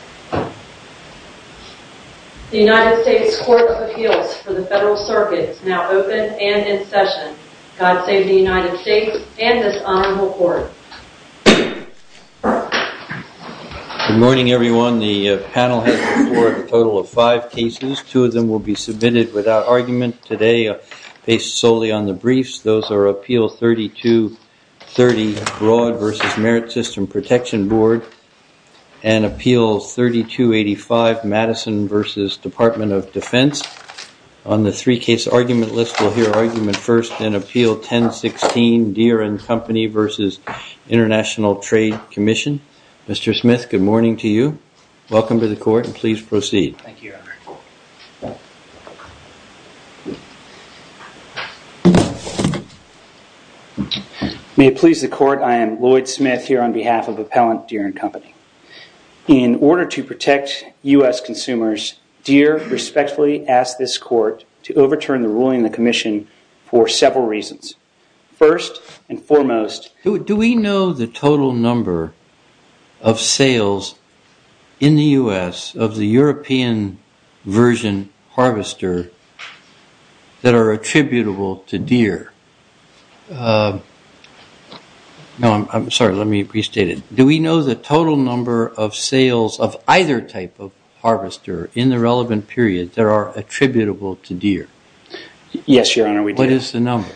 The United States Court of Appeals for the Federal Circuit is now open and in session. God Save the United States and this Honorable Court. Good morning everyone. The panel has reported a total of five cases. Two of them will be submitted without argument today based solely on the briefs. Those are Appeal 3230 Broad v. Merit System Protection Board and Appeal 3285 Madison v. Department of Defense. On the three case argument list we'll hear argument first in Appeal 1016 Deere & Company v. International Trade Commission. Mr. Smith, good morning to you. Welcome to the court and please proceed. May it please the court, I am Lloyd Smith here on behalf of Appellant Deere & Company. In order to protect U.S. consumers, Deere respectfully asks this court to overturn the ruling in the commission for several reasons. First and foremost... Do we know the total number of sales in the U.S. of the European version harvester that are attributable to Deere? No, I'm sorry, let me restate it. Do we know the total number of sales of either type of harvester in the relevant period that are attributable to Deere? Yes, Your Honor, we do. What is the number?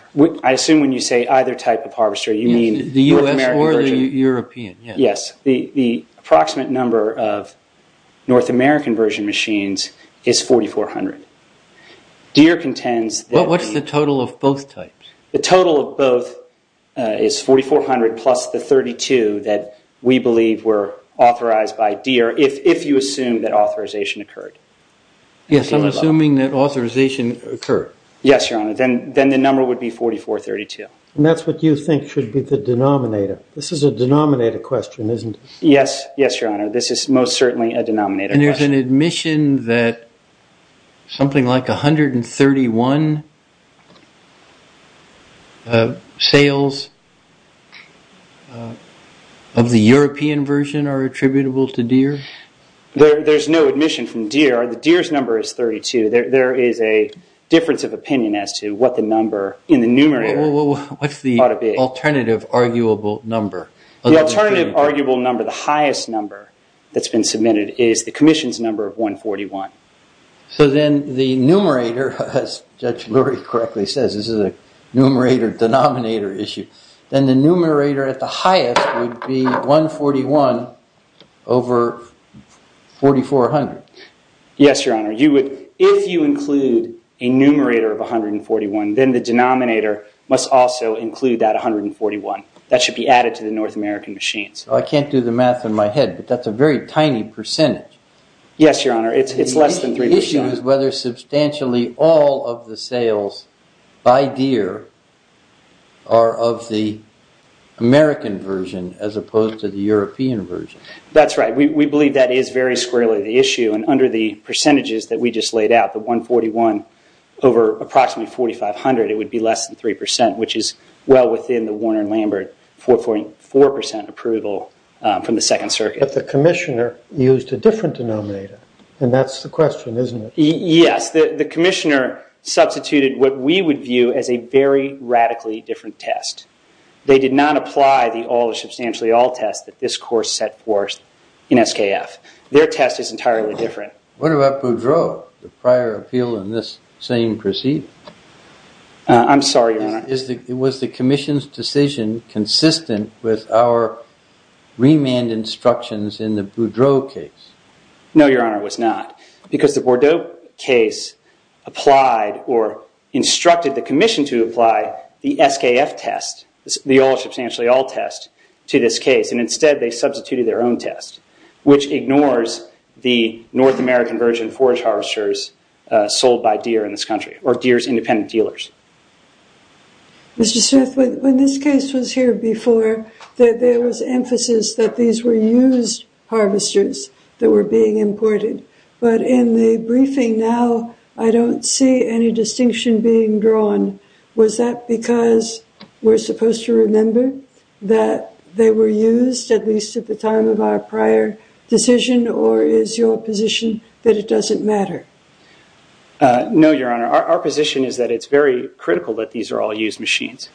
I assume when you say either type of harvester you mean... The U.S. or the European, yes. Yes, the approximate number of North American version machines is 4,400. Deere contends... What's the total of both types? The total of both is 4,400 plus the 32 that we believe were authorized by Deere if you assume that authorization occurred. Yes, I'm assuming that authorization occurred. Yes, Your Honor, then the number would be 4,432. And that's what you think should be the denominator. This is a denominator question, isn't it? Yes, Your Honor, this is most certainly a denominator question. And there's an admission that something like 131 sales of the European version are attributable to Deere? There's no admission from Deere. Deere's number is 32. There is a difference of opinion as to what the number in the numerator ought to be. What's the alternative arguable number? The alternative arguable number, the highest number that's been submitted, is the Commission's number of 141. So then the numerator, as Judge Lurie correctly says, this is a numerator-denominator issue, then the numerator at the highest would be 141 over 4,400. Yes, Your Honor, if you include a numerator of 141, then the denominator must also include that 141. That should be added to the North American machines. I can't do the math in my head, but that's a very tiny percentage. Yes, Your Honor, it's less than three percent. The question is whether substantially all of the sales by Deere are of the American version as opposed to the European version. That's right. We believe that is very squarely the issue, and under the percentages that we just laid out, the 141 over approximately 4,500, it would be less than three percent, which is well within the Warner and Lambert 4.4 percent approval from the Second Circuit. But the Commissioner used a different denominator, and that's the question, isn't it? Yes, the Commissioner substituted what we would view as a very radically different test. They did not apply the all is substantially all test that this course set forth in SKF. Their test is entirely different. What about Boudreau, the prior appeal in this same proceeding? I'm sorry, Your Honor. Was the Commission's decision consistent with our remand instructions in the Boudreau case? No, Your Honor, it was not, because the Boudreau case applied or instructed the Commission to apply the SKF test, the all is substantially all test, to this case. Instead, they substituted their own test, which ignores the North American virgin forage harvesters sold by Deere in this country, or Deere's independent dealers. Mr. Smith, when this case was here before, there was emphasis that these were used harvesters that were being imported. But in the briefing now, I don't see any distinction being drawn. Was that because we're supposed to remember that they were used, at least at the time of our prior decision, or is your position that it doesn't matter? No, Your Honor. Our position is that it's very critical that these are all used machines.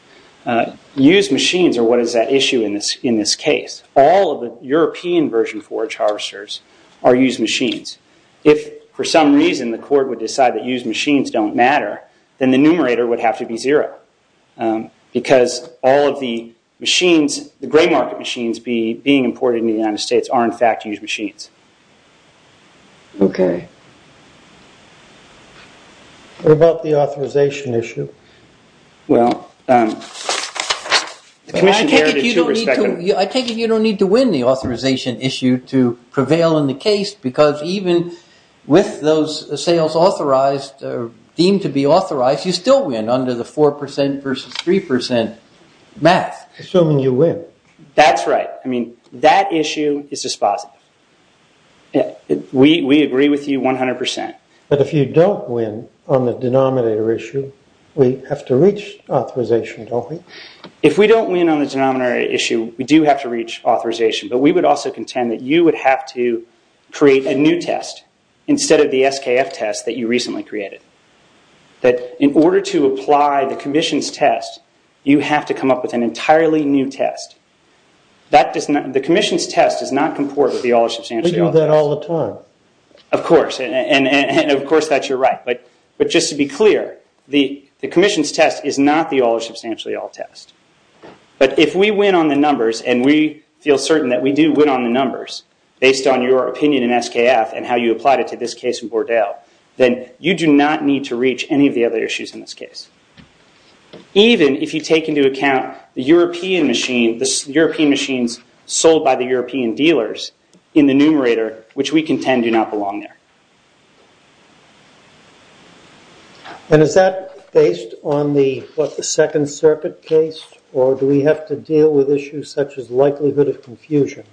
Used machines are what is at issue in this case. All of the European virgin forage harvesters are used machines. If, for some reason, the court would decide that used machines don't matter, then the numerator would have to be zero, because all of the machines, the gray market machines being imported into the United States, are, in fact, used machines. Okay. What about the authorization issue? Well, the Commission heralded two respective... I take it you don't need to win the authorization issue to prevail in the case, because even with those sales authorized or deemed to be authorized, you still win under the 4% versus 3% math. Assuming you win. That's right. I mean, that issue is dispositive. We agree with you 100%. But if you don't win on the denominator issue, we have to reach authorization, don't we? If we don't win on the denominator issue, we do have to reach authorization. But we would also contend that you would have to create a new test instead of the SKF test that you recently created. In order to apply the Commission's test, you have to come up with an entirely new test. The Commission's test does not comport with the All or Substantially All test. We do that all the time. Of course. And, of course, that you're right. But just to be clear, the Commission's test is not the All or Substantially All test. But if we win on the numbers, and we feel certain that we do win on the numbers, based on your opinion in SKF and how you applied it to this case in Bordeaux, then you do not need to reach any of the other issues in this case. Even if you take into account the European machines sold by the European dealers in the numerator, which we contend do not belong there. And is that based on the Second Circuit case, or do we have to deal with issues such as likelihood of confusion,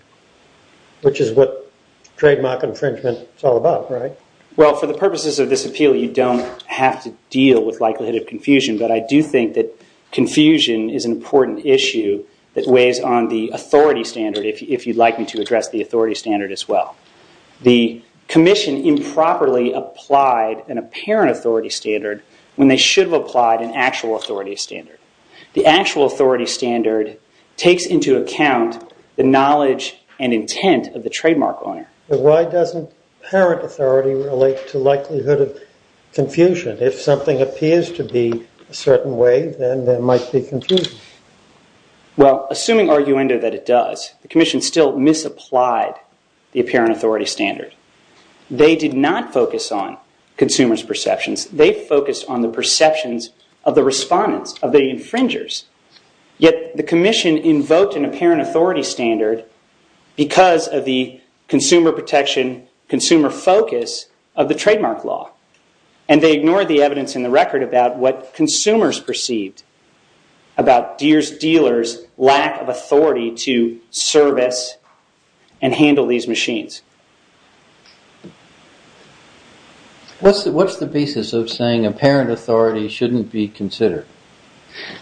which is what trademark infringement is all about, right? Well, for the purposes of this appeal, you don't have to deal with likelihood of confusion. But I do think that confusion is an important issue that weighs on the authority standard, if you'd like me to address the authority standard as well. The Commission improperly applied an apparent authority standard when they should have applied an actual authority standard. The actual authority standard takes into account the knowledge and intent of the trademark owner. But why doesn't apparent authority relate to likelihood of confusion? If something appears to be a certain way, then there might be confusion. Well, assuming arguendo that it does, the Commission still misapplied the apparent authority standard. They did not focus on consumers' perceptions. They focused on the perceptions of the respondents, of the infringers. Yet the Commission invoked an apparent authority standard because of the consumer protection, consumer focus of the trademark law. And they ignored the evidence in the record about what consumers perceived about Deere's dealers' lack of authority to service and handle these machines. What's the basis of saying apparent authority shouldn't be considered?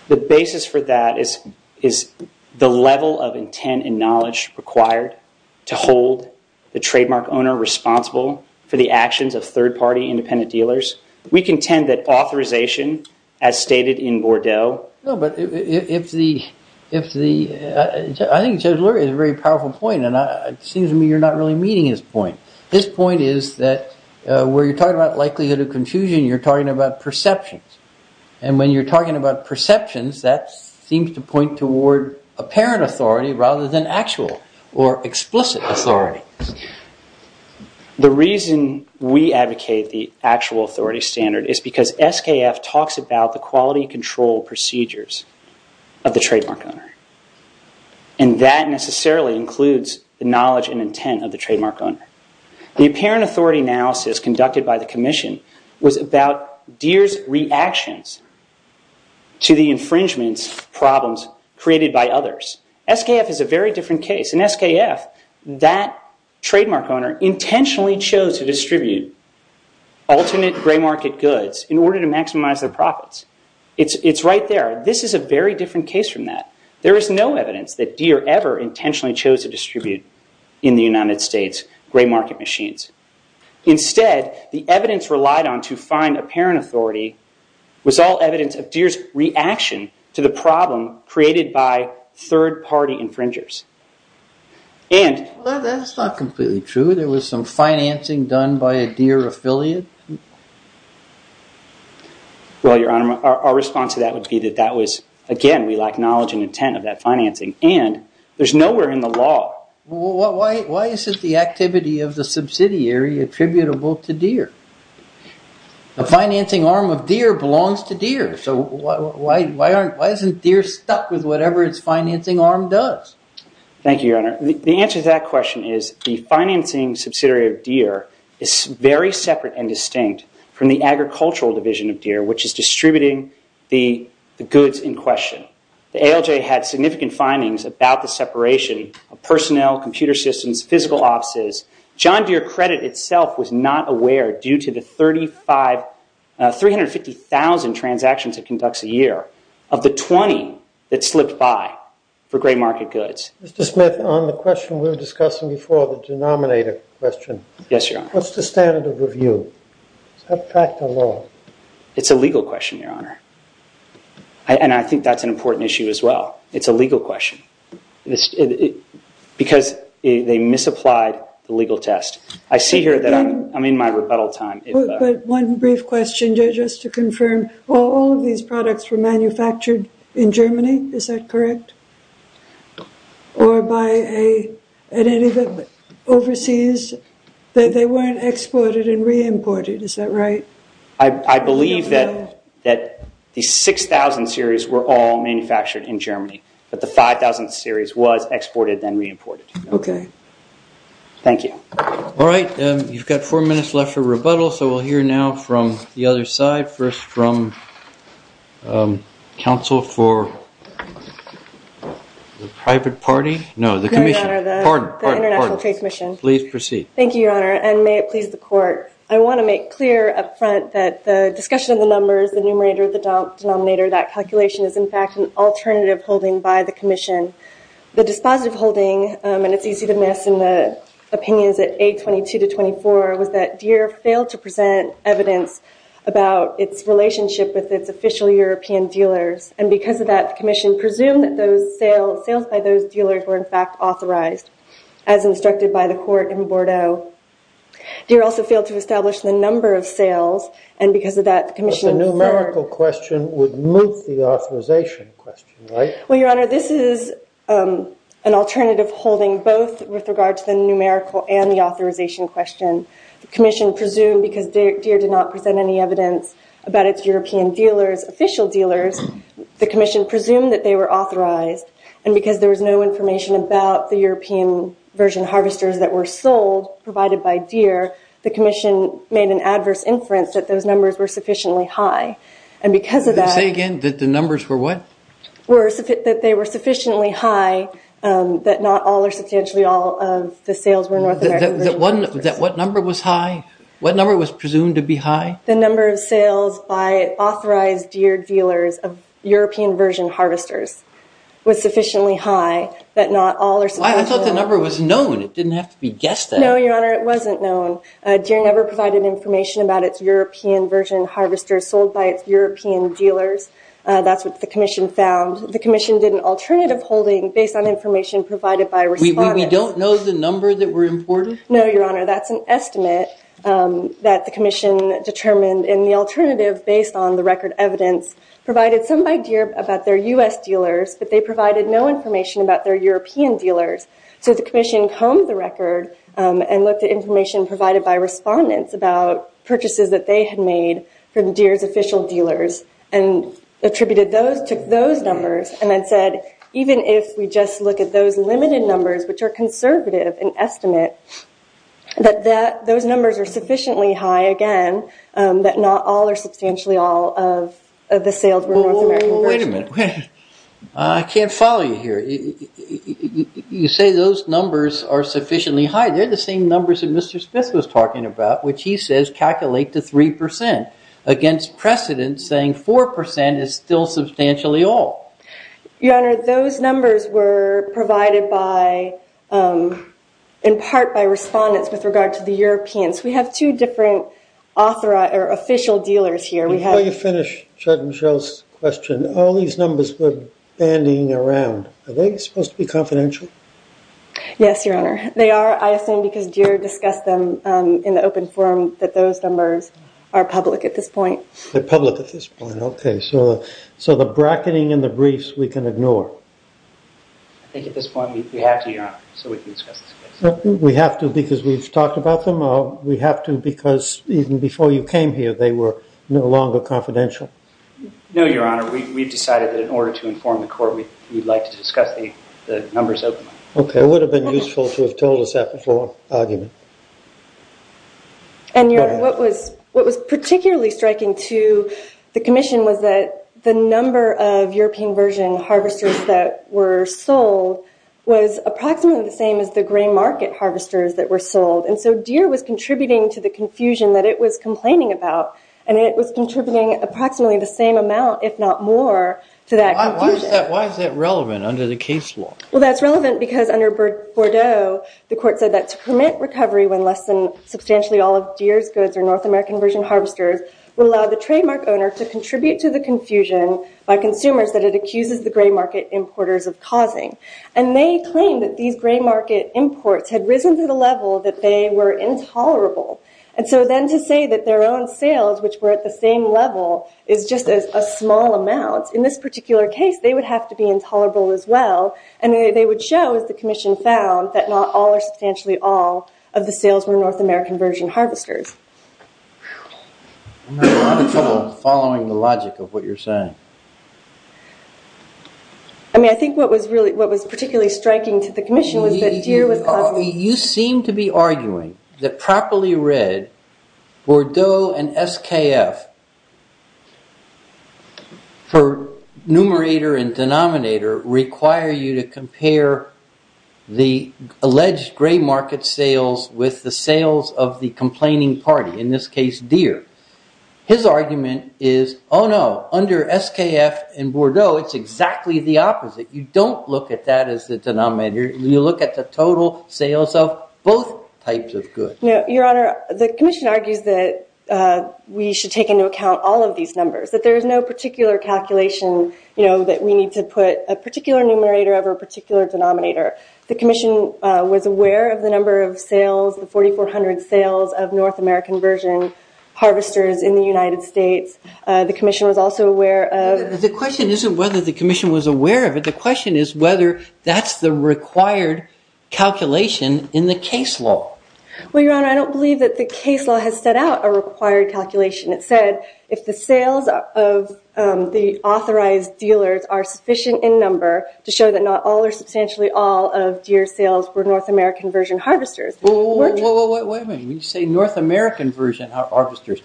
The basis for that is the level of intent and knowledge required to hold the trademark owner responsible for the actions of third-party independent dealers. We contend that authorization, as stated in Bordeaux... No, but if the... I think Judge Lurie has a very powerful point and it seems to me you're not really meeting his point. His point is that where you're talking about likelihood of confusion, you're talking about perceptions. And when you're talking about perceptions, that seems to point toward apparent authority rather than actual or explicit authority. The reason we advocate the actual authority standard is because SKF talks about the quality control procedures of the trademark owner. And that necessarily includes the knowledge and intent of the trademark owner. The apparent authority analysis conducted by the Commission was about Deere's reactions to the infringements problems created by others. SKF is a very different case. In SKF, that trademark owner intentionally chose to distribute alternate gray market goods in order to maximize their profits. It's right there. This is a very different case from that. There is no evidence that Deere ever intentionally chose to distribute in the United States gray market machines. Instead, the evidence relied on to find apparent authority was all evidence of Deere's reaction to the problem created by third-party infringers. And... Well, that's not completely true. There was some financing done by a Deere affiliate. Well, Your Honor, our response to that would be that that was, again, we lack knowledge and intent of that financing. And there's nowhere in the law... Why isn't the activity of the subsidiary attributable to Deere? The financing arm of Deere belongs to Deere. So why isn't Deere stuck with whatever its financing arm does? Thank you, Your Honor. The answer to that question is the financing subsidiary of Deere is very separate and distinct from the agricultural division of Deere, which is distributing the goods in question. The ALJ had significant findings about the separation of personnel, computer systems, physical offices. John Deere Credit itself was not aware, due to the 350,000 transactions it conducts a year, of the 20 that slipped by for gray market goods. Mr. Smith, on the question we were discussing before, the denominator question... Yes, Your Honor. What's the standard of review? Is that practical law? It's a legal question, Your Honor. And I think that's an important issue as well. It's a legal question. Because they misapplied the legal test. I see here that I'm in my rebuttal time. One brief question, Judge, just to confirm. All of these products were manufactured in Germany, is that correct? Or by a... Overseas, they weren't exported and re-imported, is that right? I believe that the 6,000 series were all manufactured in Germany. But the 5,000 series was exported and re-imported. Okay. Thank you. All right, you've got four minutes left for rebuttal. So we'll hear now from the other side. First from counsel for the private party. No, the commission. No, Your Honor, the international trade commission. Please proceed. Thank you, Your Honor, and may it please the court. I want to make clear up front that the discussion of the numbers, the numerator, the denominator, that calculation is, in fact, an alternative holding by the commission. The dispositive holding, and it's easy to miss in the opinions at A22 to 24, was that Deere failed to present evidence about its relationship with its official European dealers. And because of that, the commission presumed that those sales by those dealers were, in fact, authorized, as instructed by the court in Bordeaux. Deere also failed to establish the number of sales, and because of that, the commission... The numerical question would move the authorization question, right? Well, Your Honor, this is an alternative holding, both with regard to the numerical and the authorization question. The commission presumed, because Deere did not present any evidence about its European dealers, official dealers, the commission presumed that they were authorized, and because there was no information about the European version harvesters that were sold, provided by Deere, the commission made an adverse inference that those numbers were sufficiently high. And because of that... Say again? That the numbers were what? That they were sufficiently high that not all or substantially all of the sales were North American version harvesters. What number was high? What number was presumed to be high? The number of sales by authorized Deere dealers of European version harvesters was sufficiently high that not all or... I thought the number was known. It didn't have to be guessed at. No, Your Honor, it wasn't known. Deere never provided information about its European version harvesters sold by its European dealers. That's what the commission found. The commission did an alternative holding based on information provided by respondents. We don't know the number that were imported? No, Your Honor, that's an estimate that the commission determined, and the alternative based on the record evidence provided some by Deere about their U.S. dealers, but they provided no information about their European dealers. So the commission combed the record and looked at information provided by respondents about purchases that they had made from Deere's official dealers and attributed those to those numbers and then said even if we just look at those limited numbers, which are conservative in estimate, that those numbers are sufficiently high, again, that not all or substantially all of the sales were North American versions. Well, wait a minute. I can't follow you here. You say those numbers are sufficiently high. They're the same numbers that Mr. Smith was talking about, which he says calculate to 3%, against precedent saying 4% is still substantially all. Your Honor, those numbers were provided in part by respondents with regard to the Europeans. We have two different official dealers here. Before you finish Judd and Cheryl's question, all these numbers we're bandying around, are they supposed to be confidential? Yes, Your Honor. They are, I assume, because Deere discussed them in the open forum that those numbers are public at this point. They're public at this point. Okay. So the bracketing and the briefs we can ignore. I think at this point we have to, Your Honor, so we can discuss this case. We have to because we've talked about them. We have to because even before you came here, they were no longer confidential. No, Your Honor. We've decided that in order to inform the court, we'd like to discuss the numbers openly. Okay. It would have been useful to have told us that before argument. And, Your Honor, what was particularly striking to the commission was that the number of European version harvesters that were sold was approximately the same as the grain market harvesters that were sold. And so Deere was contributing to the confusion that it was complaining about. And it was contributing approximately the same amount, if not more, to that confusion. Why is that relevant under the case law? Well, that's relevant because under Bordeaux, the court said that to permit recovery when less than substantially all of Deere's goods or North American version harvesters would allow the trademark owner to contribute to the confusion by consumers that it accuses the grain market importers of causing. And they claimed that these grain market imports had risen to the level that they were intolerable. And so then to say that their own sales, which were at the same level, is just a small amount, in this particular case, they would have to be intolerable as well. And they would show, as the commission found, that not all or substantially all of the sales were North American version harvesters. Whew. I'm having a lot of trouble following the logic of what you're saying. I mean, I think what was particularly striking to the commission was that Deere was causing... You seem to be arguing that properly read, Bordeaux and SKF, for numerator and denominator, require you to compare the alleged grain market sales with the sales of the complaining party, in this case, Deere. His argument is, oh no, under SKF and Bordeaux, it's exactly the opposite. You don't look at that as the denominator. You look at the total sales of both types of goods. Your Honor, the commission argues that we should take into account all of these numbers, that there is no particular calculation that we need to put a particular numerator over a particular denominator. The commission was aware of the number of sales, the 4,400 sales of North American version harvesters in the United States. The commission was also aware of... The question isn't whether the commission was aware of it. The question is whether that's the required calculation in the case law. Well, Your Honor, I don't believe that the case law has set out a required calculation. It said if the sales of the authorized dealers are sufficient in number to show that not all or substantially all of Deere sales were North American version harvesters. Whoa, whoa, whoa, wait a minute. When you say North American version harvesters,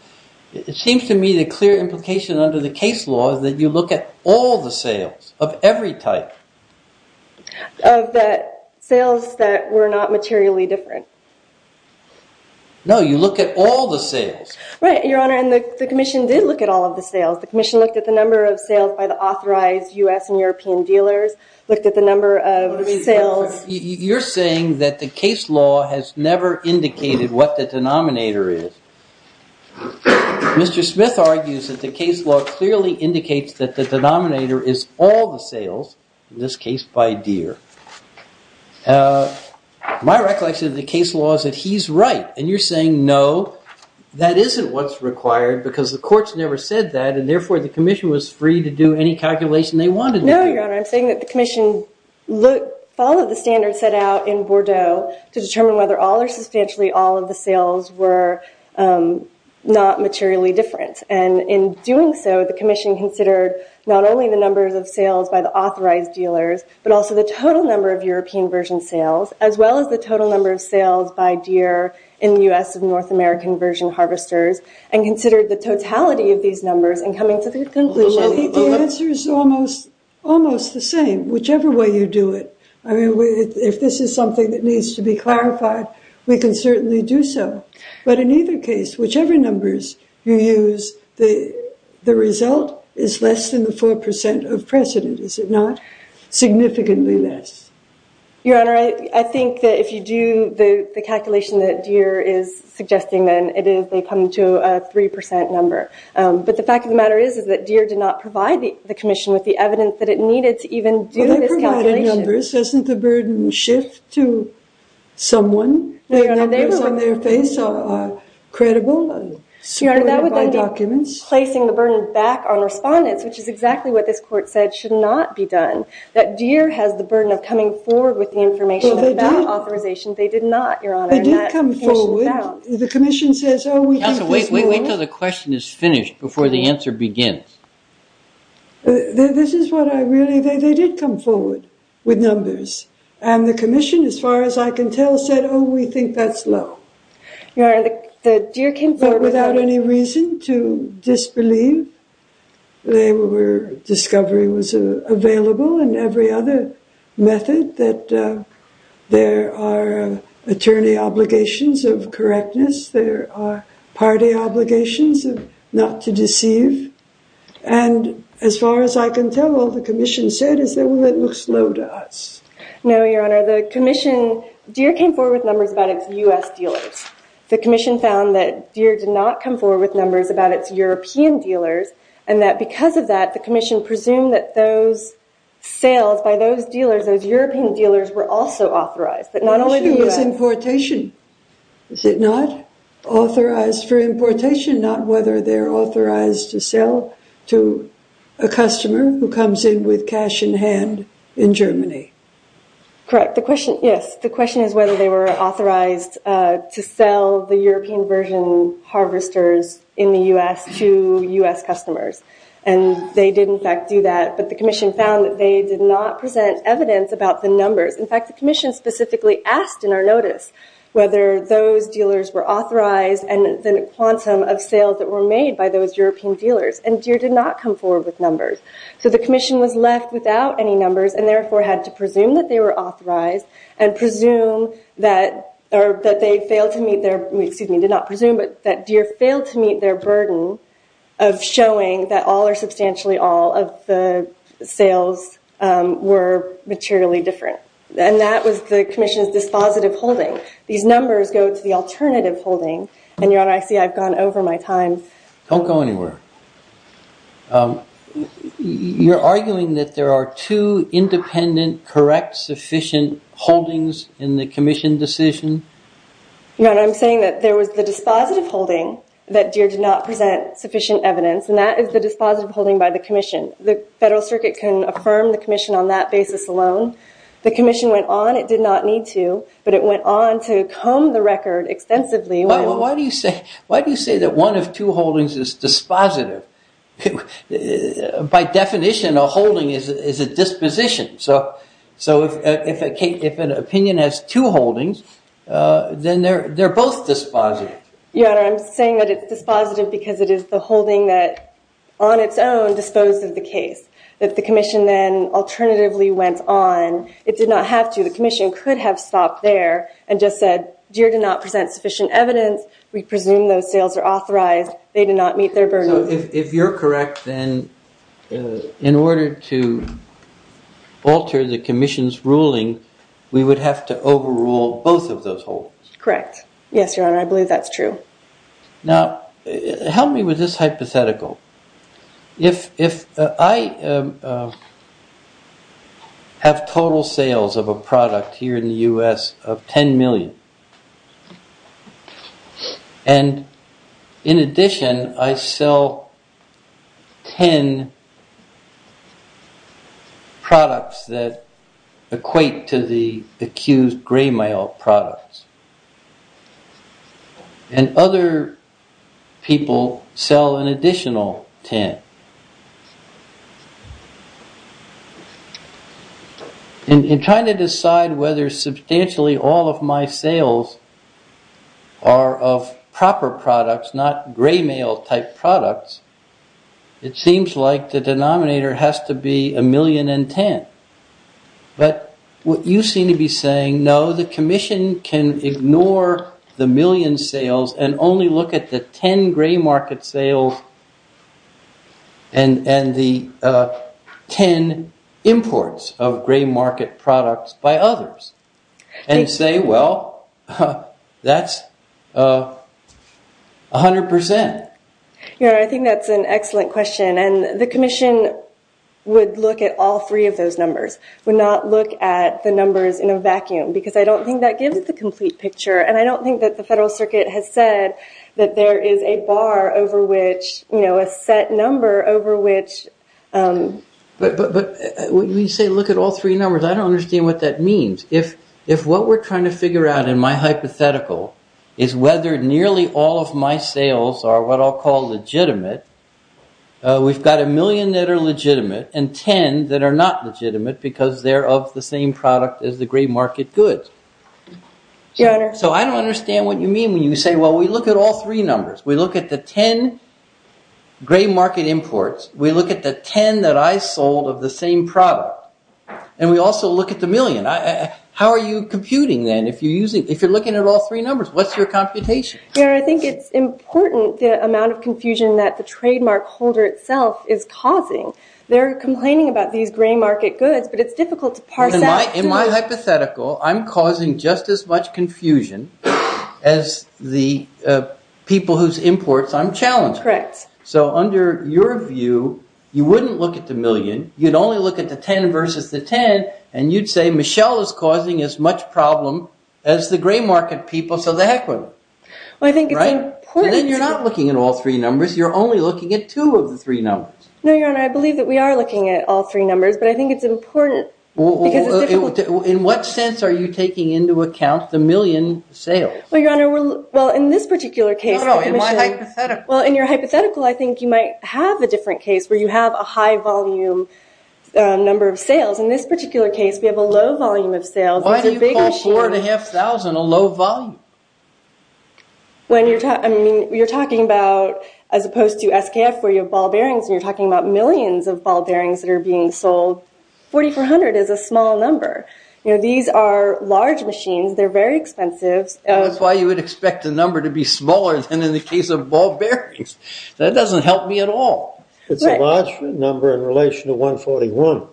it seems to me the clear implication under the case law is that you look at all the sales of every type. Of the sales that were not materially different. No, you look at all the sales. Right, Your Honor, and the commission did look at all of the sales. The commission looked at the number of sales by the authorized U.S. and European dealers, looked at the number of sales... You're saying that the case law has never indicated what the denominator is. Mr. Smith argues that the case law clearly indicates that the denominator is all the sales, in this case by Deere. My recollection of the case law is that he's right, and you're saying no, that isn't what's required because the courts never said that, and therefore the commission was free to do any calculation they wanted to do. No, Your Honor, I'm saying that the commission followed the standards set out in Bordeaux to determine whether all or substantially all of the sales were not materially different. And in doing so, the commission considered not only the numbers of sales by the authorized dealers, but also the total number of European version sales, as well as the total number of sales by Deere in the U.S. and North American version harvesters, and considered the totality of these numbers and coming to the conclusion... I think the answer is almost the same, whichever way you do it. I mean, if this is something that needs to be clarified, we can certainly do so. But in either case, whichever numbers you use, the result is less than the 4% of precedent, is it not? Significantly less. Your Honor, I think that if you do the calculation that Deere is suggesting, then they come to a 3% number. But the fact of the matter is that Deere did not provide the commission with the evidence that it needed to even do this calculation. Well, they provided numbers. Doesn't the burden shift to someone? The numbers on their face are credible? Your Honor, that would then be placing the burden back on respondents, which is exactly what this court said should not be done. That Deere has the burden of coming forward with the information without authorization. They did not, Your Honor. They did come forward. The commission says... Wait until the question is finished before the answer begins. This is what I really... They did come forward with numbers. And the commission, as far as I can tell, said, oh, we think that's low. Your Honor, the Deere came forward... They were... Discovery was available and every other method that there are attorney obligations of correctness. There are party obligations of not to deceive. And as far as I can tell, all the commission said is that, well, it looks low to us. No, Your Honor, the commission... Deere came forward with numbers about its U.S. dealers. The commission found that Deere did not come forward with numbers about its European dealers. And that because of that, the commission presumed that those sales by those dealers, those European dealers, were also authorized. But not only the U.S. The question was importation, is it not? Authorized for importation, not whether they're authorized to sell to a customer who comes in with cash in hand in Germany. Correct. The question... Yes. The question is whether they were authorized to sell the European version harvesters in the U.S. to U.S. customers. And they did, in fact, do that. But the commission found that they did not present evidence about the numbers. In fact, the commission specifically asked in our notice whether those dealers were authorized and the quantum of sales that were made by those European dealers. So the commission was left without any numbers and therefore had to presume that they were authorized and presume that they failed to meet their... Excuse me, did not presume, but that Deere failed to meet their burden of showing that all or substantially all of the sales were materially different. And that was the commission's dispositive holding. These numbers go to the alternative holding. And, Your Honor, I see I've gone over my time. Don't go anywhere. You're arguing that there are two independent, correct, sufficient holdings in the commission decision? Your Honor, I'm saying that there was the dispositive holding that Deere did not present sufficient evidence. And that is the dispositive holding by the commission. The Federal Circuit can affirm the commission on that basis alone. The commission went on. It did not need to. But it went on to comb the record extensively. Why do you say that one of two holdings is dispositive? By definition, a holding is a disposition. So if an opinion has two holdings, then they're both dispositive. Your Honor, I'm saying that it's dispositive because it is the holding that on its own disposed of the case. That the commission then alternatively went on. It did not have to. So the commission could have stopped there and just said, Deere did not present sufficient evidence. We presume those sales are authorized. They did not meet their burden. So if you're correct, then in order to alter the commission's ruling, we would have to overrule both of those holdings? Correct. Yes, Your Honor, I believe that's true. Now, help me with this hypothetical. If I have total sales of a product here in the U.S. of 10 million. And in addition, I sell 10 products that equate to the accused gray mail products. And other people sell an additional 10. In trying to decide whether substantially all of my sales are of proper products, not gray mail type products. It seems like the denominator has to be a million and 10. But what you seem to be saying, no, the commission can ignore the million sales. And only look at the 10 gray market sales and the 10 imports of gray market products by others. And say, well, that's 100%. Your Honor, I think that's an excellent question. And the commission would look at all three of those numbers. Would not look at the numbers in a vacuum. Because I don't think that gives the complete picture. And I don't think that the Federal Circuit has said that there is a bar over which, you know, a set number over which. But when you say look at all three numbers, I don't understand what that means. If what we're trying to figure out in my hypothetical is whether nearly all of my sales are what I'll call legitimate. We've got a million that are legitimate and 10 that are not legitimate because they're of the same product as the gray market goods. Your Honor. So I don't understand what you mean when you say, well, we look at all three numbers. We look at the 10 gray market imports. We look at the 10 that I sold of the same product. And we also look at the million. How are you computing then? If you're looking at all three numbers, what's your computation? Your Honor, I think it's important the amount of confusion that the trademark holder itself is causing. They're complaining about these gray market goods, but it's difficult to parse out. In my hypothetical, I'm causing just as much confusion as the people whose imports I'm challenging. Correct. So under your view, you wouldn't look at the million. You'd only look at the 10 versus the 10. And you'd say, Michelle is causing as much problem as the gray market people, so the heck with them. Well, I think it's important... Then you're not looking at all three numbers. You're only looking at two of the three numbers. No, Your Honor. I believe that we are looking at all three numbers, but I think it's important because it's difficult... In what sense are you taking into account the million sales? Well, Your Honor, in this particular case... No, no. In my hypothetical. Well, in your hypothetical, I think you might have a different case where you have a high volume number of sales. In this particular case, we have a low volume of sales. Why do you call 4,500 a low volume? You're talking about, as opposed to SKF where you have ball bearings, and you're talking about millions of ball bearings that are being sold. 4,400 is a small number. These are large machines. They're very expensive. That's why you would expect the number to be smaller than in the case of ball bearings. That doesn't help me at all. It's a large number in relation to 141.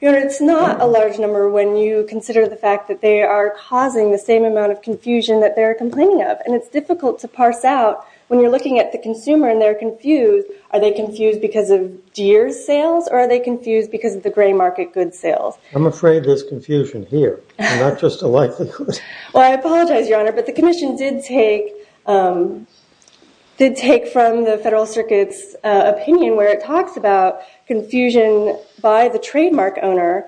Your Honor, it's not a large number when you consider the fact that they are causing the same amount of confusion that they're complaining of, and it's difficult to parse out when you're looking at the consumer and they're confused. Are they confused because of Deere's sales, or are they confused because of the gray market goods sales? I'm afraid there's confusion here, and not just a likelihood. Well, I apologize, Your Honor, but the commission did take from the Federal Circuit's opinion where it talks about confusion by the trademark owner,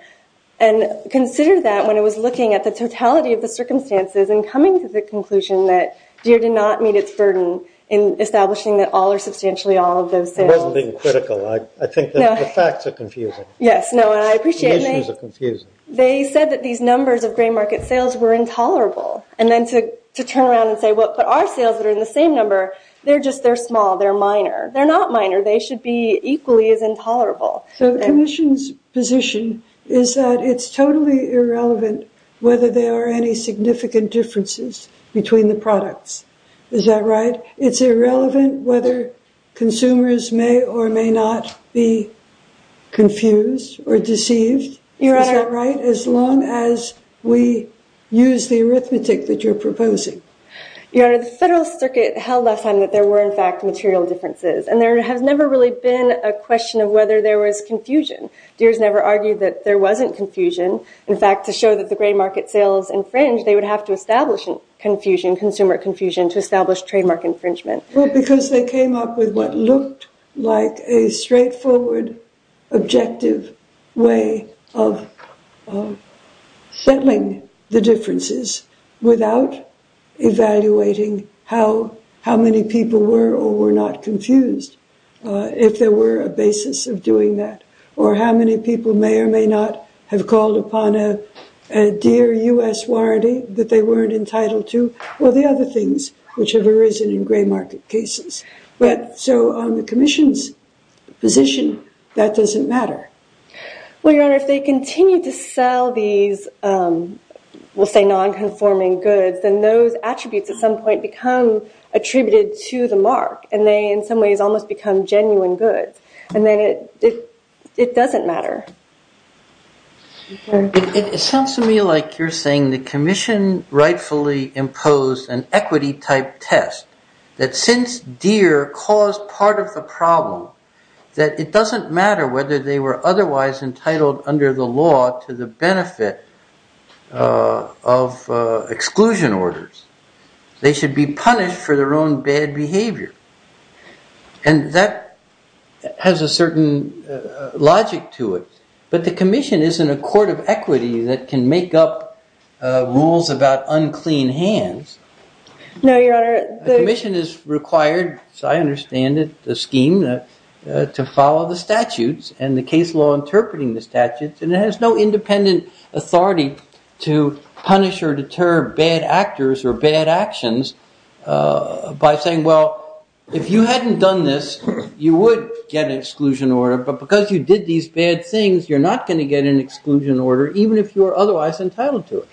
and considered that when it was looking at the totality of the circumstances and coming to the conclusion that Deere did not meet its burden in establishing that all or substantially all of those sales. I wasn't being critical. I think that the facts are confusing. Yes, no, and I appreciate it. The issues are confusing. They said that these numbers of gray market sales were intolerable, and then to turn around and say, well, but our sales are in the same number. They're small. They're minor. They're not minor. They should be equally as intolerable. So the commission's position is that it's totally irrelevant whether there are any significant differences between the products. Is that right? It's irrelevant whether consumers may or may not be confused or deceived. Is that right? As long as we use the arithmetic that you're proposing. Your Honor, the Federal Circuit held last time that there were, in fact, material differences, and there has never really been a question of whether there was confusion. Deere's never argued that there wasn't confusion. In fact, to show that the gray market sales infringed, they would have to establish confusion, consumer confusion, to establish trademark infringement. Well, because they came up with what looked like a straightforward, objective way of settling the differences without evaluating how many people were or were not confused, if there were a basis of doing that, or how many people may or may not have called upon a Deere U.S. warranty that they weren't entitled to. Or the other things which have arisen in gray market cases. So on the commission's position, that doesn't matter. Well, Your Honor, if they continue to sell these, we'll say non-conforming goods, then those attributes at some point become attributed to the mark, and they in some ways almost become genuine goods. And then it doesn't matter. It sounds to me like you're saying the commission rightfully imposed an equity-type test, that since Deere caused part of the problem, that it doesn't matter whether they were otherwise entitled under the law to the benefit of exclusion orders. They should be punished for their own bad behavior. And that has a certain logic to it. But the commission isn't a court of equity that can make up rules about unclean hands. No, Your Honor. The commission is required, as I understand it, the scheme to follow the statutes and the case law interpreting the statutes, and it has no independent authority to punish or deter bad actors or bad actions by saying, well, if you hadn't done this, you would get an exclusion order. But because you did these bad things, you're not going to get an exclusion order, even if you were otherwise entitled to it.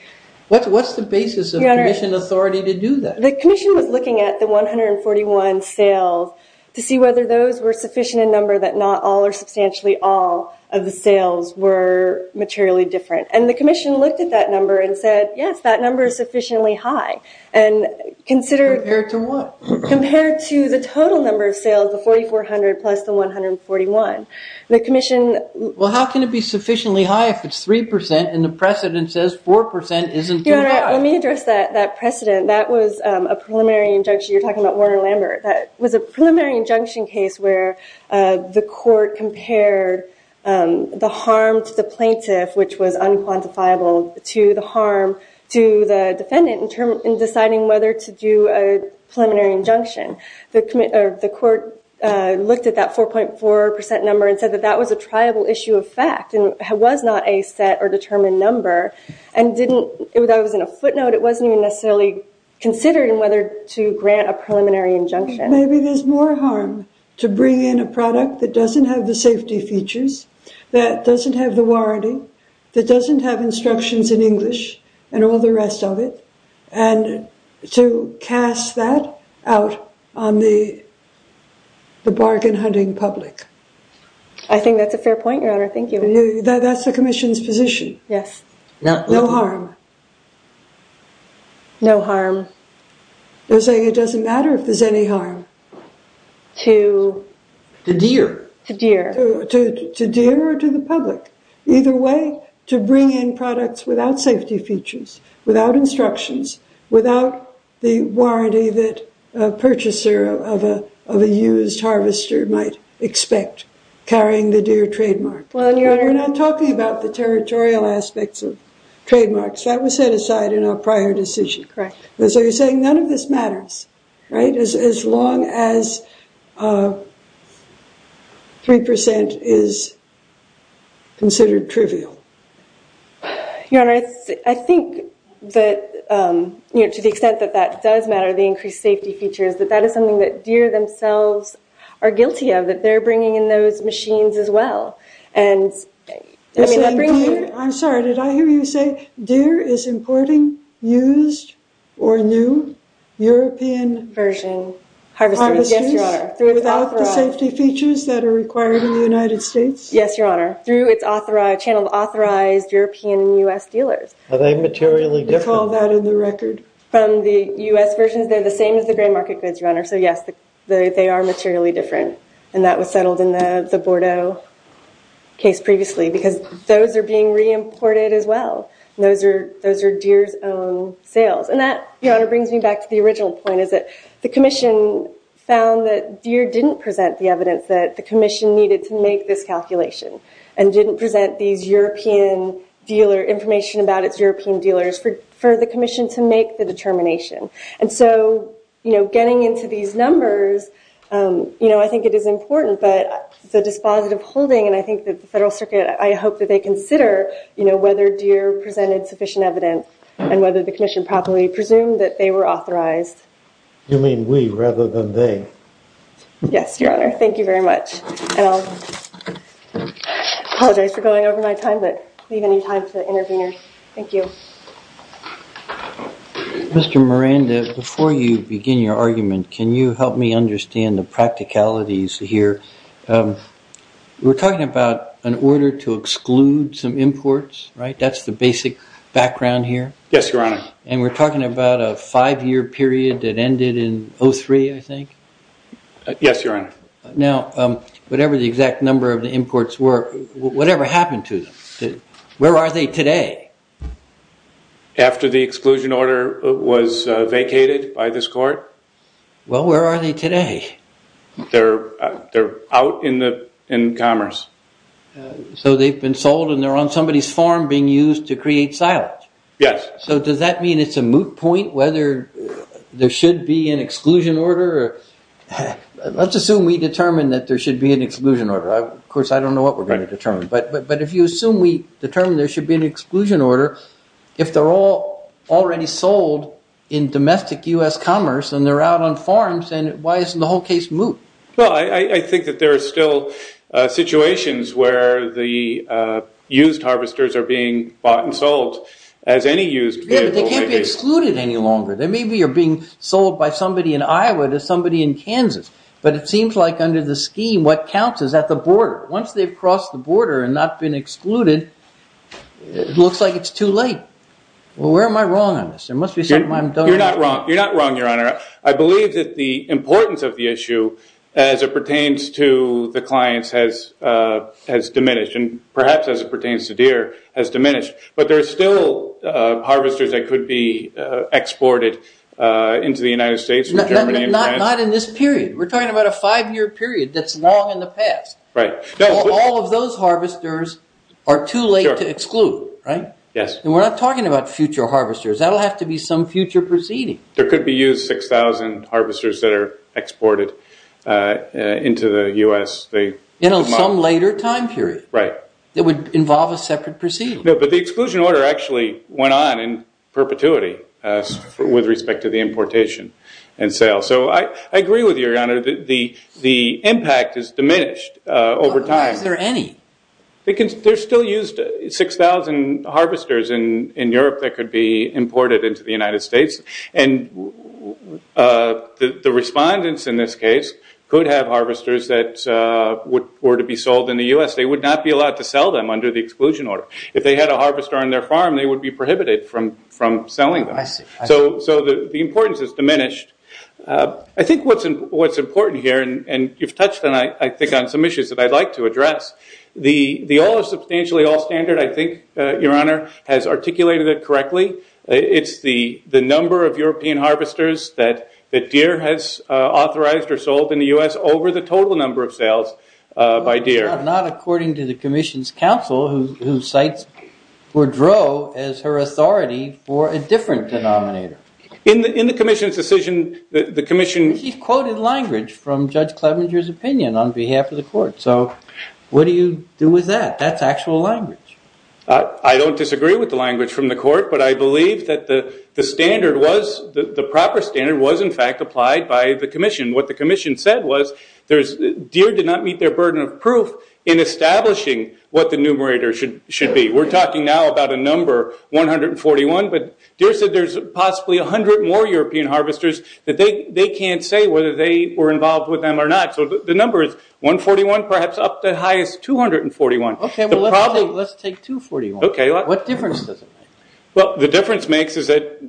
What's the basis of commission authority to do that? The commission was looking at the 141 sales to see whether those were sufficient in number that not all or substantially all of the sales were materially different. And the commission looked at that number and said, yes, that number is sufficiently high. Compared to what? Compared to the total number of sales, the 4,400 plus the 141. The commission- Well, how can it be sufficiently high if it's 3% and the precedent says 4% isn't enough? Your Honor, let me address that precedent. That was a preliminary injunction. You're talking about Warner-Lambert. That was a preliminary injunction case where the court compared the harm to the plaintiff, which was unquantifiable, to the harm to the defendant in deciding whether to do a preliminary injunction. The court looked at that 4.4% number and said that that was a triable issue of fact and was not a set or determined number. And didn't- I was in a footnote. It wasn't even necessarily considering whether to grant a preliminary injunction. Maybe there's more harm to bring in a product that doesn't have the safety features, that doesn't have the warranting, that doesn't have instructions in English, and all the rest of it, and to cast that out on the bargain-hunting public. I think that's a fair point, Your Honor. Thank you. That's the commission's position. Yes. No harm. No harm. They're saying it doesn't matter if there's any harm. To- To deer. To deer. To deer or to the public. Either way, to bring in products without safety features, without instructions, without the warranty that a purchaser of a used harvester might expect carrying the deer trademark. Well, Your Honor- We're not talking about the territorial aspects of trademarks. That was set aside in our prior decision. Correct. So you're saying none of this matters, right, as long as 3% is considered trivial. Your Honor, I think that, you know, to the extent that that does matter, the increased safety features, that that is something that deer themselves are guilty of, that they're bringing in those machines as well. I'm sorry, did I hear you say deer is importing used or new European- Version harvesters. Harvesters. Yes, Your Honor. Without the safety features that are required in the United States? Yes, Your Honor, through its channeled authorized European and U.S. dealers. Are they materially different? Do you recall that in the record? From the U.S. versions, they're the same as the grain market goods, Your Honor. So, yes, they are materially different. And that was settled in the Bordeaux case previously because those are being reimported as well. Those are deer's own sales. And that, Your Honor, brings me back to the original point is that the commission found that deer didn't present the evidence that the commission needed to make this calculation and didn't present these European dealer- information about its European dealers for the commission to make the determination. And so, you know, getting into these numbers, you know, I think it is important. But the dispositive holding and I think that the Federal Circuit, I hope that they consider, you know, whether deer presented sufficient evidence and whether the commission properly presumed that they were authorized. You mean we rather than they? Yes, Your Honor. Thank you very much. And I'll apologize for going over my time, but leave any time for the interveners. Thank you. Mr. Miranda, before you begin your argument, can you help me understand the practicalities here? We're talking about an order to exclude some imports, right? That's the basic background here? Yes, Your Honor. And we're talking about a five-year period that ended in 03, I think? Yes, Your Honor. Now, whatever the exact number of the imports were, whatever happened to them? Where are they today? After the exclusion order was vacated by this court? Well, where are they today? They're out in commerce. So they've been sold and they're on somebody's farm being used to create silence? Yes. So does that mean it's a moot point whether there should be an exclusion order? Let's assume we determine that there should be an exclusion order. Of course, I don't know what we're going to determine. But if you assume we determine there should be an exclusion order, if they're all already sold in domestic U.S. commerce and they're out on farms, then why isn't the whole case moot? Well, I think that there are still situations where the used harvesters are being bought and sold as any used vehicle. Yes, but they can't be excluded any longer. They maybe are being sold by somebody in Iowa to somebody in Kansas. But it seems like under the scheme, what counts is at the border. Once they've crossed the border and not been excluded, it looks like it's too late. Well, where am I wrong on this? You're not wrong, Your Honor. I believe that the importance of the issue as it pertains to the clients has diminished and perhaps as it pertains to deer has diminished. But there are still harvesters that could be exported into the United States or Germany. Not in this period. We're talking about a five-year period that's long in the past. Right. All of those harvesters are too late to exclude, right? Yes. We're not talking about future harvesters. That will have to be some future proceeding. There could be used 6,000 harvesters that are exported into the U.S. In some later time period. Right. It would involve a separate proceeding. But the exclusion order actually went on in perpetuity with respect to the importation and sale. I agree with you, Your Honor. The impact has diminished over time. Why is there any? Because there's still used 6,000 harvesters in Europe that could be imported into the United States. And the respondents in this case could have harvesters that were to be sold in the U.S. They would not be allowed to sell them under the exclusion order. If they had a harvester on their farm, they would be prohibited from selling them. I see. So the importance has diminished. I think what's important here, and you've touched on, I think, on some issues that I'd like to address, the all is substantially all standard, I think, Your Honor, has articulated it correctly. It's the number of European harvesters that Deere has authorized or sold in the U.S. over the total number of sales by Deere. Not according to the commission's counsel, who cites Boudreaux as her authority for a different denominator. In the commission's decision, the commission- She quoted language from Judge Clevenger's opinion on behalf of the court. So what do you do with that? That's actual language. I don't disagree with the language from the court, but I believe that the standard was, the proper standard was, in fact, applied by the commission. What the commission said was Deere did not meet their burden of proof in establishing what the numerator should be. We're talking now about a number, 141, but Deere said there's possibly 100 more European harvesters that they can't say whether they were involved with them or not. So the number is 141, perhaps up to as high as 241. Okay, let's take 241. Okay. What difference does it make? Well, the difference it makes is that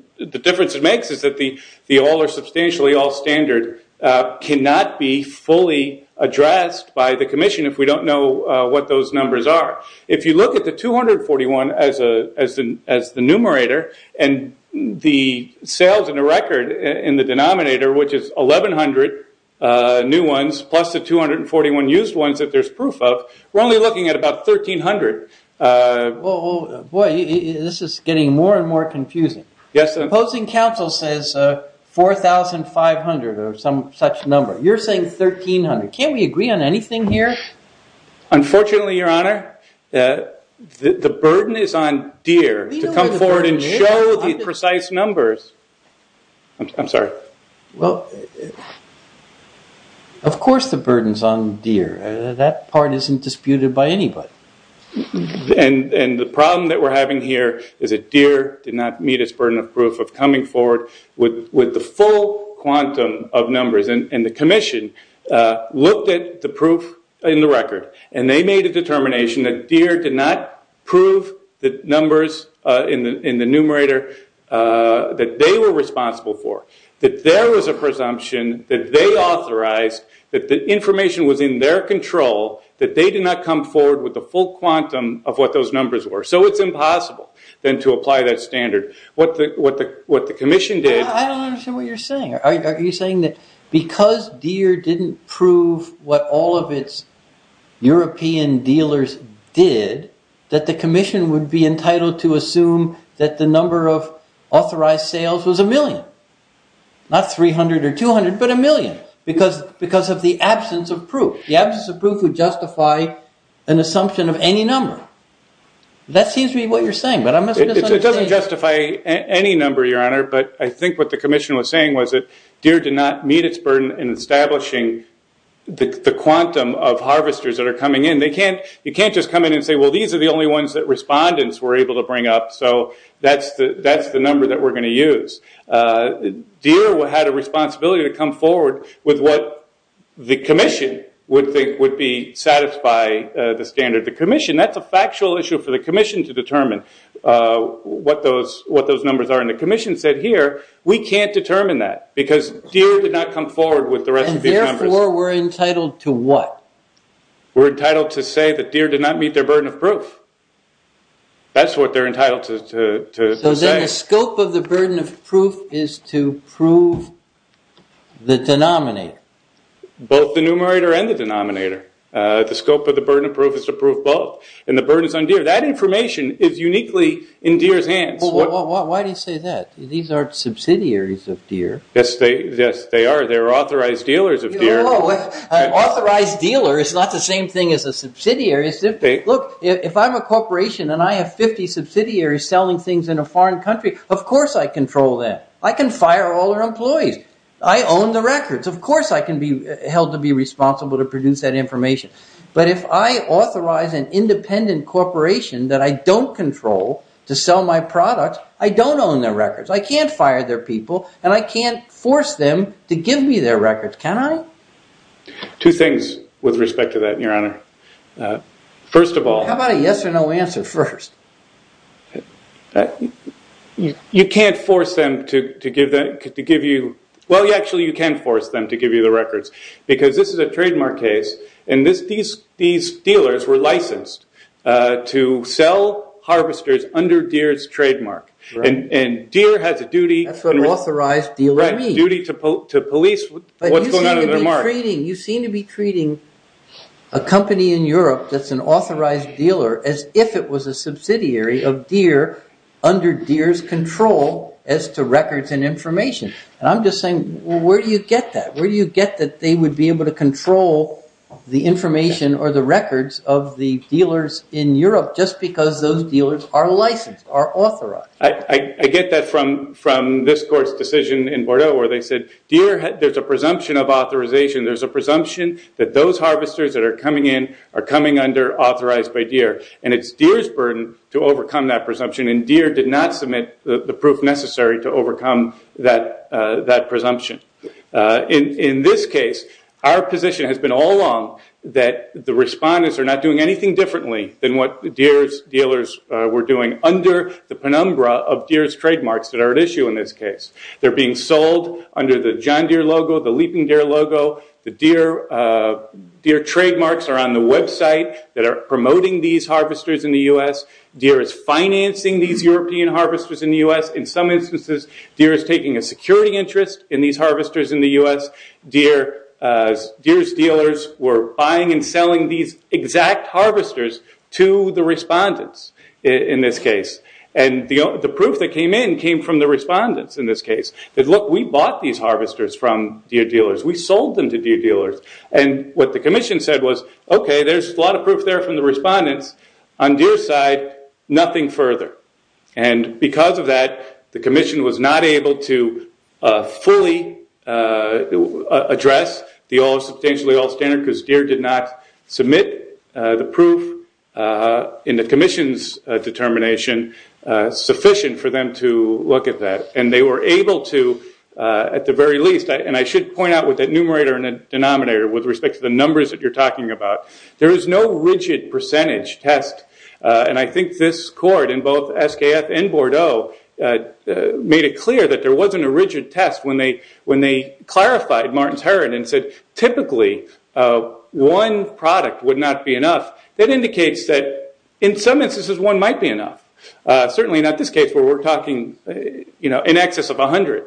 the all or substantially all standard cannot be fully addressed by the commission if we don't know what those numbers are. If you look at the 241 as the numerator and the sales and the record in the denominator, which is 1,100 new ones plus the 241 used ones that there's proof of, we're only looking at about 1,300. Boy, this is getting more and more confusing. Opposing counsel says 4,500 or some such number. You're saying 1,300. Can't we agree on anything here? Unfortunately, Your Honor, the burden is on Deere to come forward and show the precise numbers. I'm sorry. Well, of course the burden's on Deere. That part isn't disputed by anybody. And the problem that we're having here is that Deere did not meet its burden of proof of coming forward with the full quantum of numbers. And the commission looked at the proof in the record, and they made a determination that Deere did not prove the numbers in the numerator that they were responsible for, that there was a presumption that they authorized, that the information was in their control, that they did not come forward with the full quantum of what those numbers were. So it's impossible then to apply that standard. What the commission did... I don't understand what you're saying. Are you saying that because Deere didn't prove what all of its European dealers did, that the commission would be entitled to assume that the number of authorized sales was a million? Not 300 or 200, but a million, because of the absence of proof. The absence of proof would justify an assumption of any number. That seems to be what you're saying, but I'm... It doesn't justify any number, Your Honor, but I think what the commission was saying was that Deere did not meet its burden in establishing the quantum of harvesters that are coming in. You can't just come in and say, well, these are the only ones that respondents were able to bring up, so that's the number that we're going to use. Deere had a responsibility to come forward with what the commission would think would satisfy the standard. The commission... That's a factual issue for the commission to determine what those numbers are, and the commission said, here, we can't determine that, because Deere did not come forward with the rest of the numbers. Therefore, we're entitled to what? We're entitled to say that Deere did not meet their burden of proof. That's what they're entitled to say. So then the scope of the burden of proof is to prove the denominator. Both the numerator and the denominator. The scope of the burden of proof is to prove both, and the burden is on Deere. That information is uniquely in Deere's hands. Why do you say that? These aren't subsidiaries of Deere. Yes, they are. They're authorized dealers of Deere. An authorized dealer is not the same thing as a subsidiary. Look, if I'm a corporation and I have 50 subsidiaries selling things in a foreign country, of course I control them. I can fire all their employees. I own the records. Of course I can be held to be responsible to produce that information. But if I authorize an independent corporation that I don't control to sell my products, I don't own their records. I can't fire their people, and I can't force them to give me their records. Can I? Two things with respect to that, Your Honor. First of all... How about a yes or no answer first? You can't force them to give you... Well, actually you can force them to give you the records. Because this is a trademark case, and these dealers were licensed to sell harvesters under Deere's trademark. And Deere has a duty... That's what an authorized dealer means. They have a duty to police what's going on in their mark. But you seem to be treating a company in Europe that's an authorized dealer as if it was a subsidiary of Deere under Deere's control as to records and information. And I'm just saying, where do you get that? Where do you get that they would be able to control the information or the records of the dealers in Europe just because those dealers are licensed, are authorized? I get that from this court's decision in Bordeaux where they said, Deere, there's a presumption of authorization. There's a presumption that those harvesters that are coming in are coming under authorized by Deere. And it's Deere's burden to overcome that presumption, and Deere did not submit the proof necessary to overcome that presumption. In this case, our position has been all along that the respondents are not doing anything differently than what Deere's dealers were doing under the penumbra of Deere's trademarks that are at issue in this case. They're being sold under the John Deere logo, the Leaping Deer logo. The Deere trademarks are on the website that are promoting these harvesters in the U.S. Deere is financing these European harvesters in the U.S. In some instances, Deere is taking a security interest in these harvesters in the U.S. Deere's dealers were buying and selling these exact harvesters to the respondents in this case. The proof that came in came from the respondents in this case. They said, look, we bought these harvesters from Deere dealers. We sold them to Deere dealers. What the commission said was, okay, there's a lot of proof there from the respondents. On Deere's side, nothing further. Because of that, the commission was not able to fully address the substantially all standard, because Deere did not submit the proof in the commission's determination sufficient for them to look at that. They were able to, at the very least, and I should point out with that numerator and denominator, with respect to the numbers that you're talking about, there is no rigid percentage test. I think this court in both SKF and Bordeaux made it clear that there wasn't a rigid test when they clarified Martin's Herod and said typically one product would not be enough. That indicates that in some instances one might be enough. Certainly not this case where we're talking in excess of 100.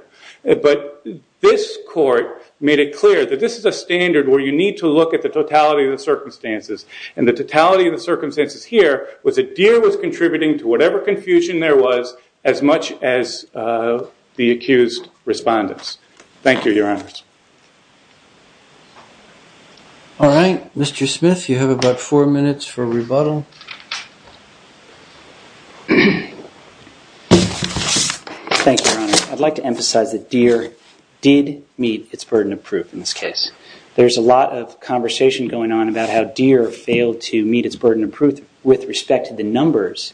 But this court made it clear that this is a standard where you need to look at the totality of the circumstances. And the totality of the circumstances here was that Deere was contributing to whatever confusion there was as much as the accused respondents. Thank you, Your Honors. All right. Mr. Smith, you have about four minutes for rebuttal. Thank you, Your Honor. I'd like to emphasize that Deere did meet its burden of proof in this case. There's a lot of conversation going on about how Deere failed to meet its burden of proof with respect to the numbers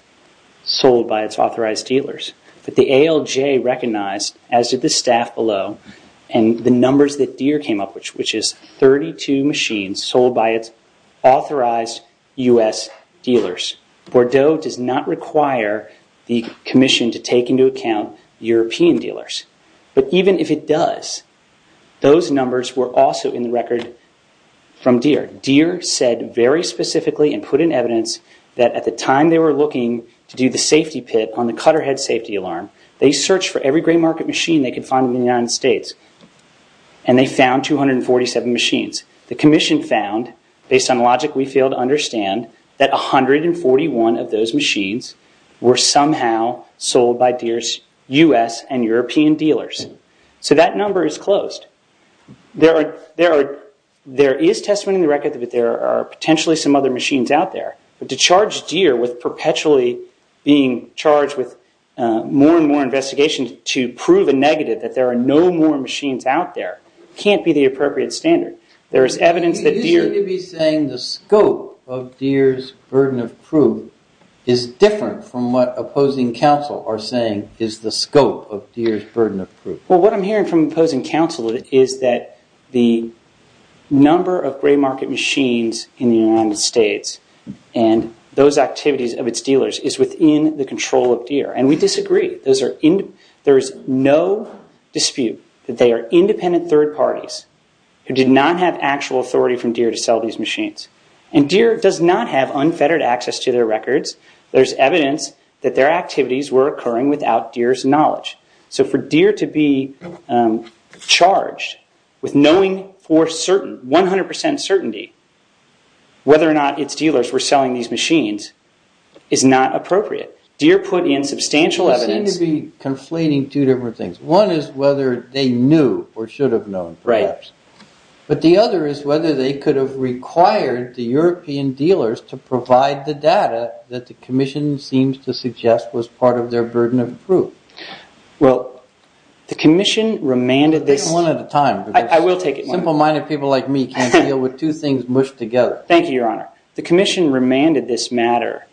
sold by its authorized dealers. But the ALJ recognized, as did the staff below, and the numbers that Deere came up with, which is 32 machines sold by its authorized U.S. dealers. Bordeaux does not require the commission to take into account European dealers. But even if it does, those numbers were also in the record from Deere. Deere said very specifically and put in evidence that at the time they were looking to do the safety pit on the cutterhead safety alarm, they searched for every gray market machine they could find in the United States. And they found 247 machines. The commission found, based on logic we fail to understand, that 141 of those machines were somehow sold by Deere's U.S. and European dealers. So that number is closed. There is testimony in the record that there are potentially some other machines out there. But to charge Deere with perpetually being charged with more and more investigations to prove a negative that there are no more machines out there can't be the appropriate standard. You seem to be saying the scope of Deere's burden of proof is different from what opposing counsel are saying is the scope of Deere's burden of proof. Well, what I'm hearing from opposing counsel is that the number of gray market machines in the United States and those activities of its dealers is within the control of Deere. And we disagree. There is no dispute that they are independent third parties who did not have actual authority from Deere to sell these machines. And Deere does not have unfettered access to their records. There's evidence that their activities were occurring without Deere's knowledge. So for Deere to be charged with knowing for 100% certainty whether or not its dealers were selling these machines is not appropriate. Deere put in substantial evidence... You seem to be conflating two different things. One is whether they knew or should have known, perhaps. But the other is whether they could have required the European dealers to provide the data that the Commission seems to suggest was part of their burden of proof. Well, the Commission remanded this... Take it one at a time. I will take it one at a time. Simple-minded people like me can't deal with two things mushed together. Thank you, Your Honor. The Commission remanded this matter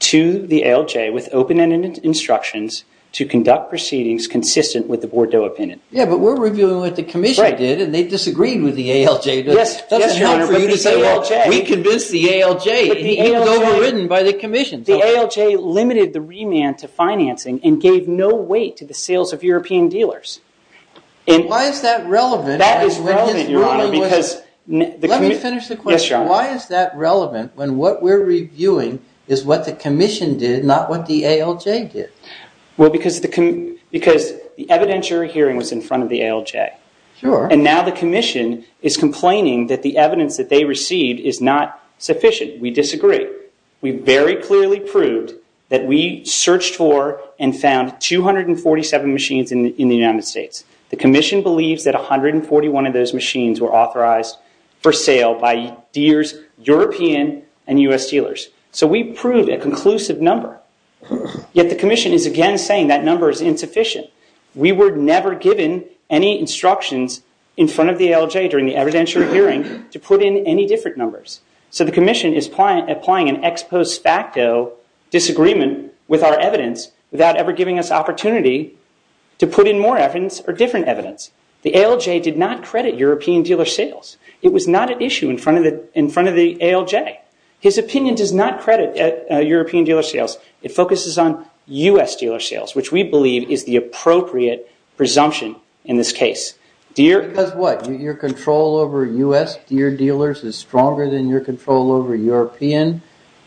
to the ALJ with open-ended instructions to conduct proceedings consistent with the Bordeaux Opinion. Yeah, but we're reviewing what the Commission did, and they disagreed with the ALJ. Yes, Your Honor, but the ALJ... We convinced the ALJ. It was overridden by the Commission. The ALJ limited the remand to financing and gave no weight to the sales of European dealers. Why is that relevant? That is relevant, Your Honor, because... Let me finish the question. Yes, Your Honor. Why is that relevant when what we're reviewing is what the Commission did, not what the ALJ did? Well, because the evidentiary hearing was in front of the ALJ. Sure. And now the Commission is complaining that the evidence that they received is not sufficient. We disagree. We very clearly proved that we searched for and found 247 machines in the United States. The Commission believes that 141 of those machines were authorized for sale by Deere's European and U.S. dealers. So we proved a conclusive number. Yet the Commission is again saying that number is insufficient. We were never given any instructions in front of the ALJ during the evidentiary hearing to put in any different numbers. So the Commission is applying an ex post facto disagreement with our evidence without ever giving us opportunity to put in more evidence or different evidence. The ALJ did not credit European dealer sales. It was not at issue in front of the ALJ. His opinion does not credit European dealer sales. It focuses on U.S. dealer sales, which we believe is the appropriate presumption in this case. Because what? Your control over U.S. Deere dealers is stronger than your control over European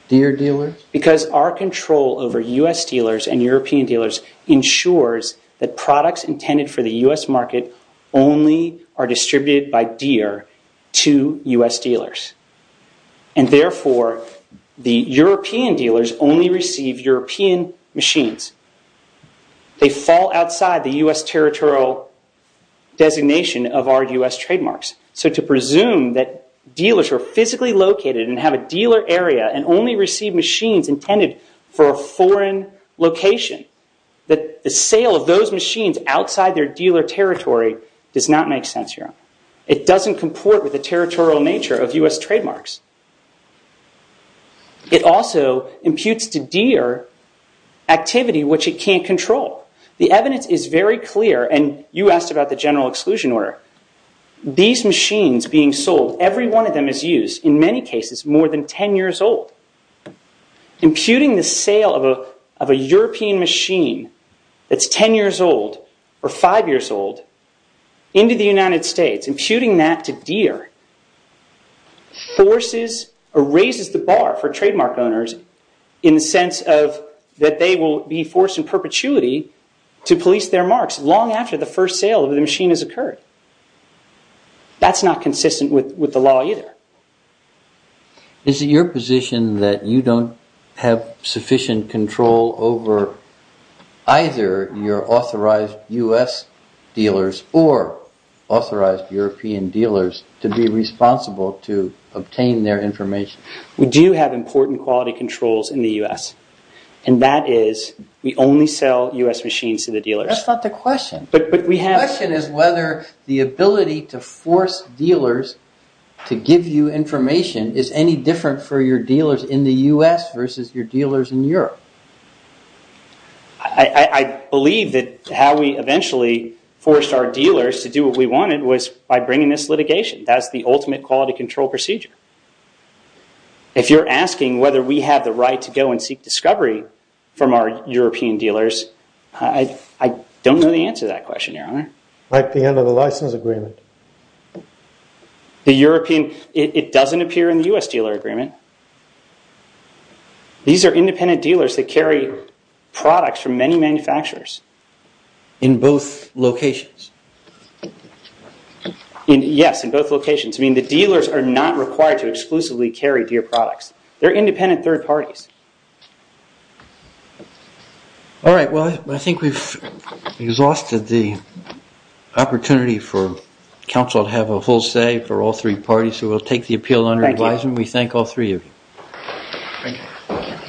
Deere dealers? Because our control over U.S. dealers and European dealers ensures that products intended for the U.S. market only are distributed by Deere to U.S. dealers. And therefore, the European dealers only receive European machines. They fall outside the U.S. territorial designation of our U.S. trademarks. So to presume that dealers are physically located and have a dealer area and only receive machines intended for a foreign location, that the sale of those machines outside their dealer territory does not make sense here. It doesn't comport with the territorial nature of U.S. trademarks. It also imputes to Deere activity which it can't control. The evidence is very clear, and you asked about the general exclusion order. These machines being sold, every one of them is used, in many cases more than 10 years old. Imputing the sale of a European machine that's 10 years old or 5 years old into the United States, imputing that to Deere forces or raises the bar for trademark owners in the sense that they will be forced in perpetuity to police their marks long after the first sale of the machine has occurred. That's not consistent with the law either. Is it your position that you don't have sufficient control over either your authorized U.S. dealers or authorized European dealers to be responsible to obtain their information? We do have important quality controls in the U.S., and that is we only sell U.S. machines to the dealers. That's not the question. The question is whether the ability to force dealers to give you information is any different for your dealers in the U.S. versus your dealers in Europe. I believe that how we eventually forced our dealers to do what we wanted was by bringing this litigation. That's the ultimate quality control procedure. If you're asking whether we have the right to go and seek discovery from our European dealers, I don't know the answer to that question, Your Honor. Like the end of the license agreement? It doesn't appear in the U.S. dealer agreement. These are independent dealers that carry products from many manufacturers. In both locations? Yes, in both locations. The dealers are not required to exclusively carry Deere products. They're independent third parties. All right. Well, I think we've exhausted the opportunity for counsel to have a full say for all three parties, so we'll take the appeal under advisement. We thank all three of you. Thank you.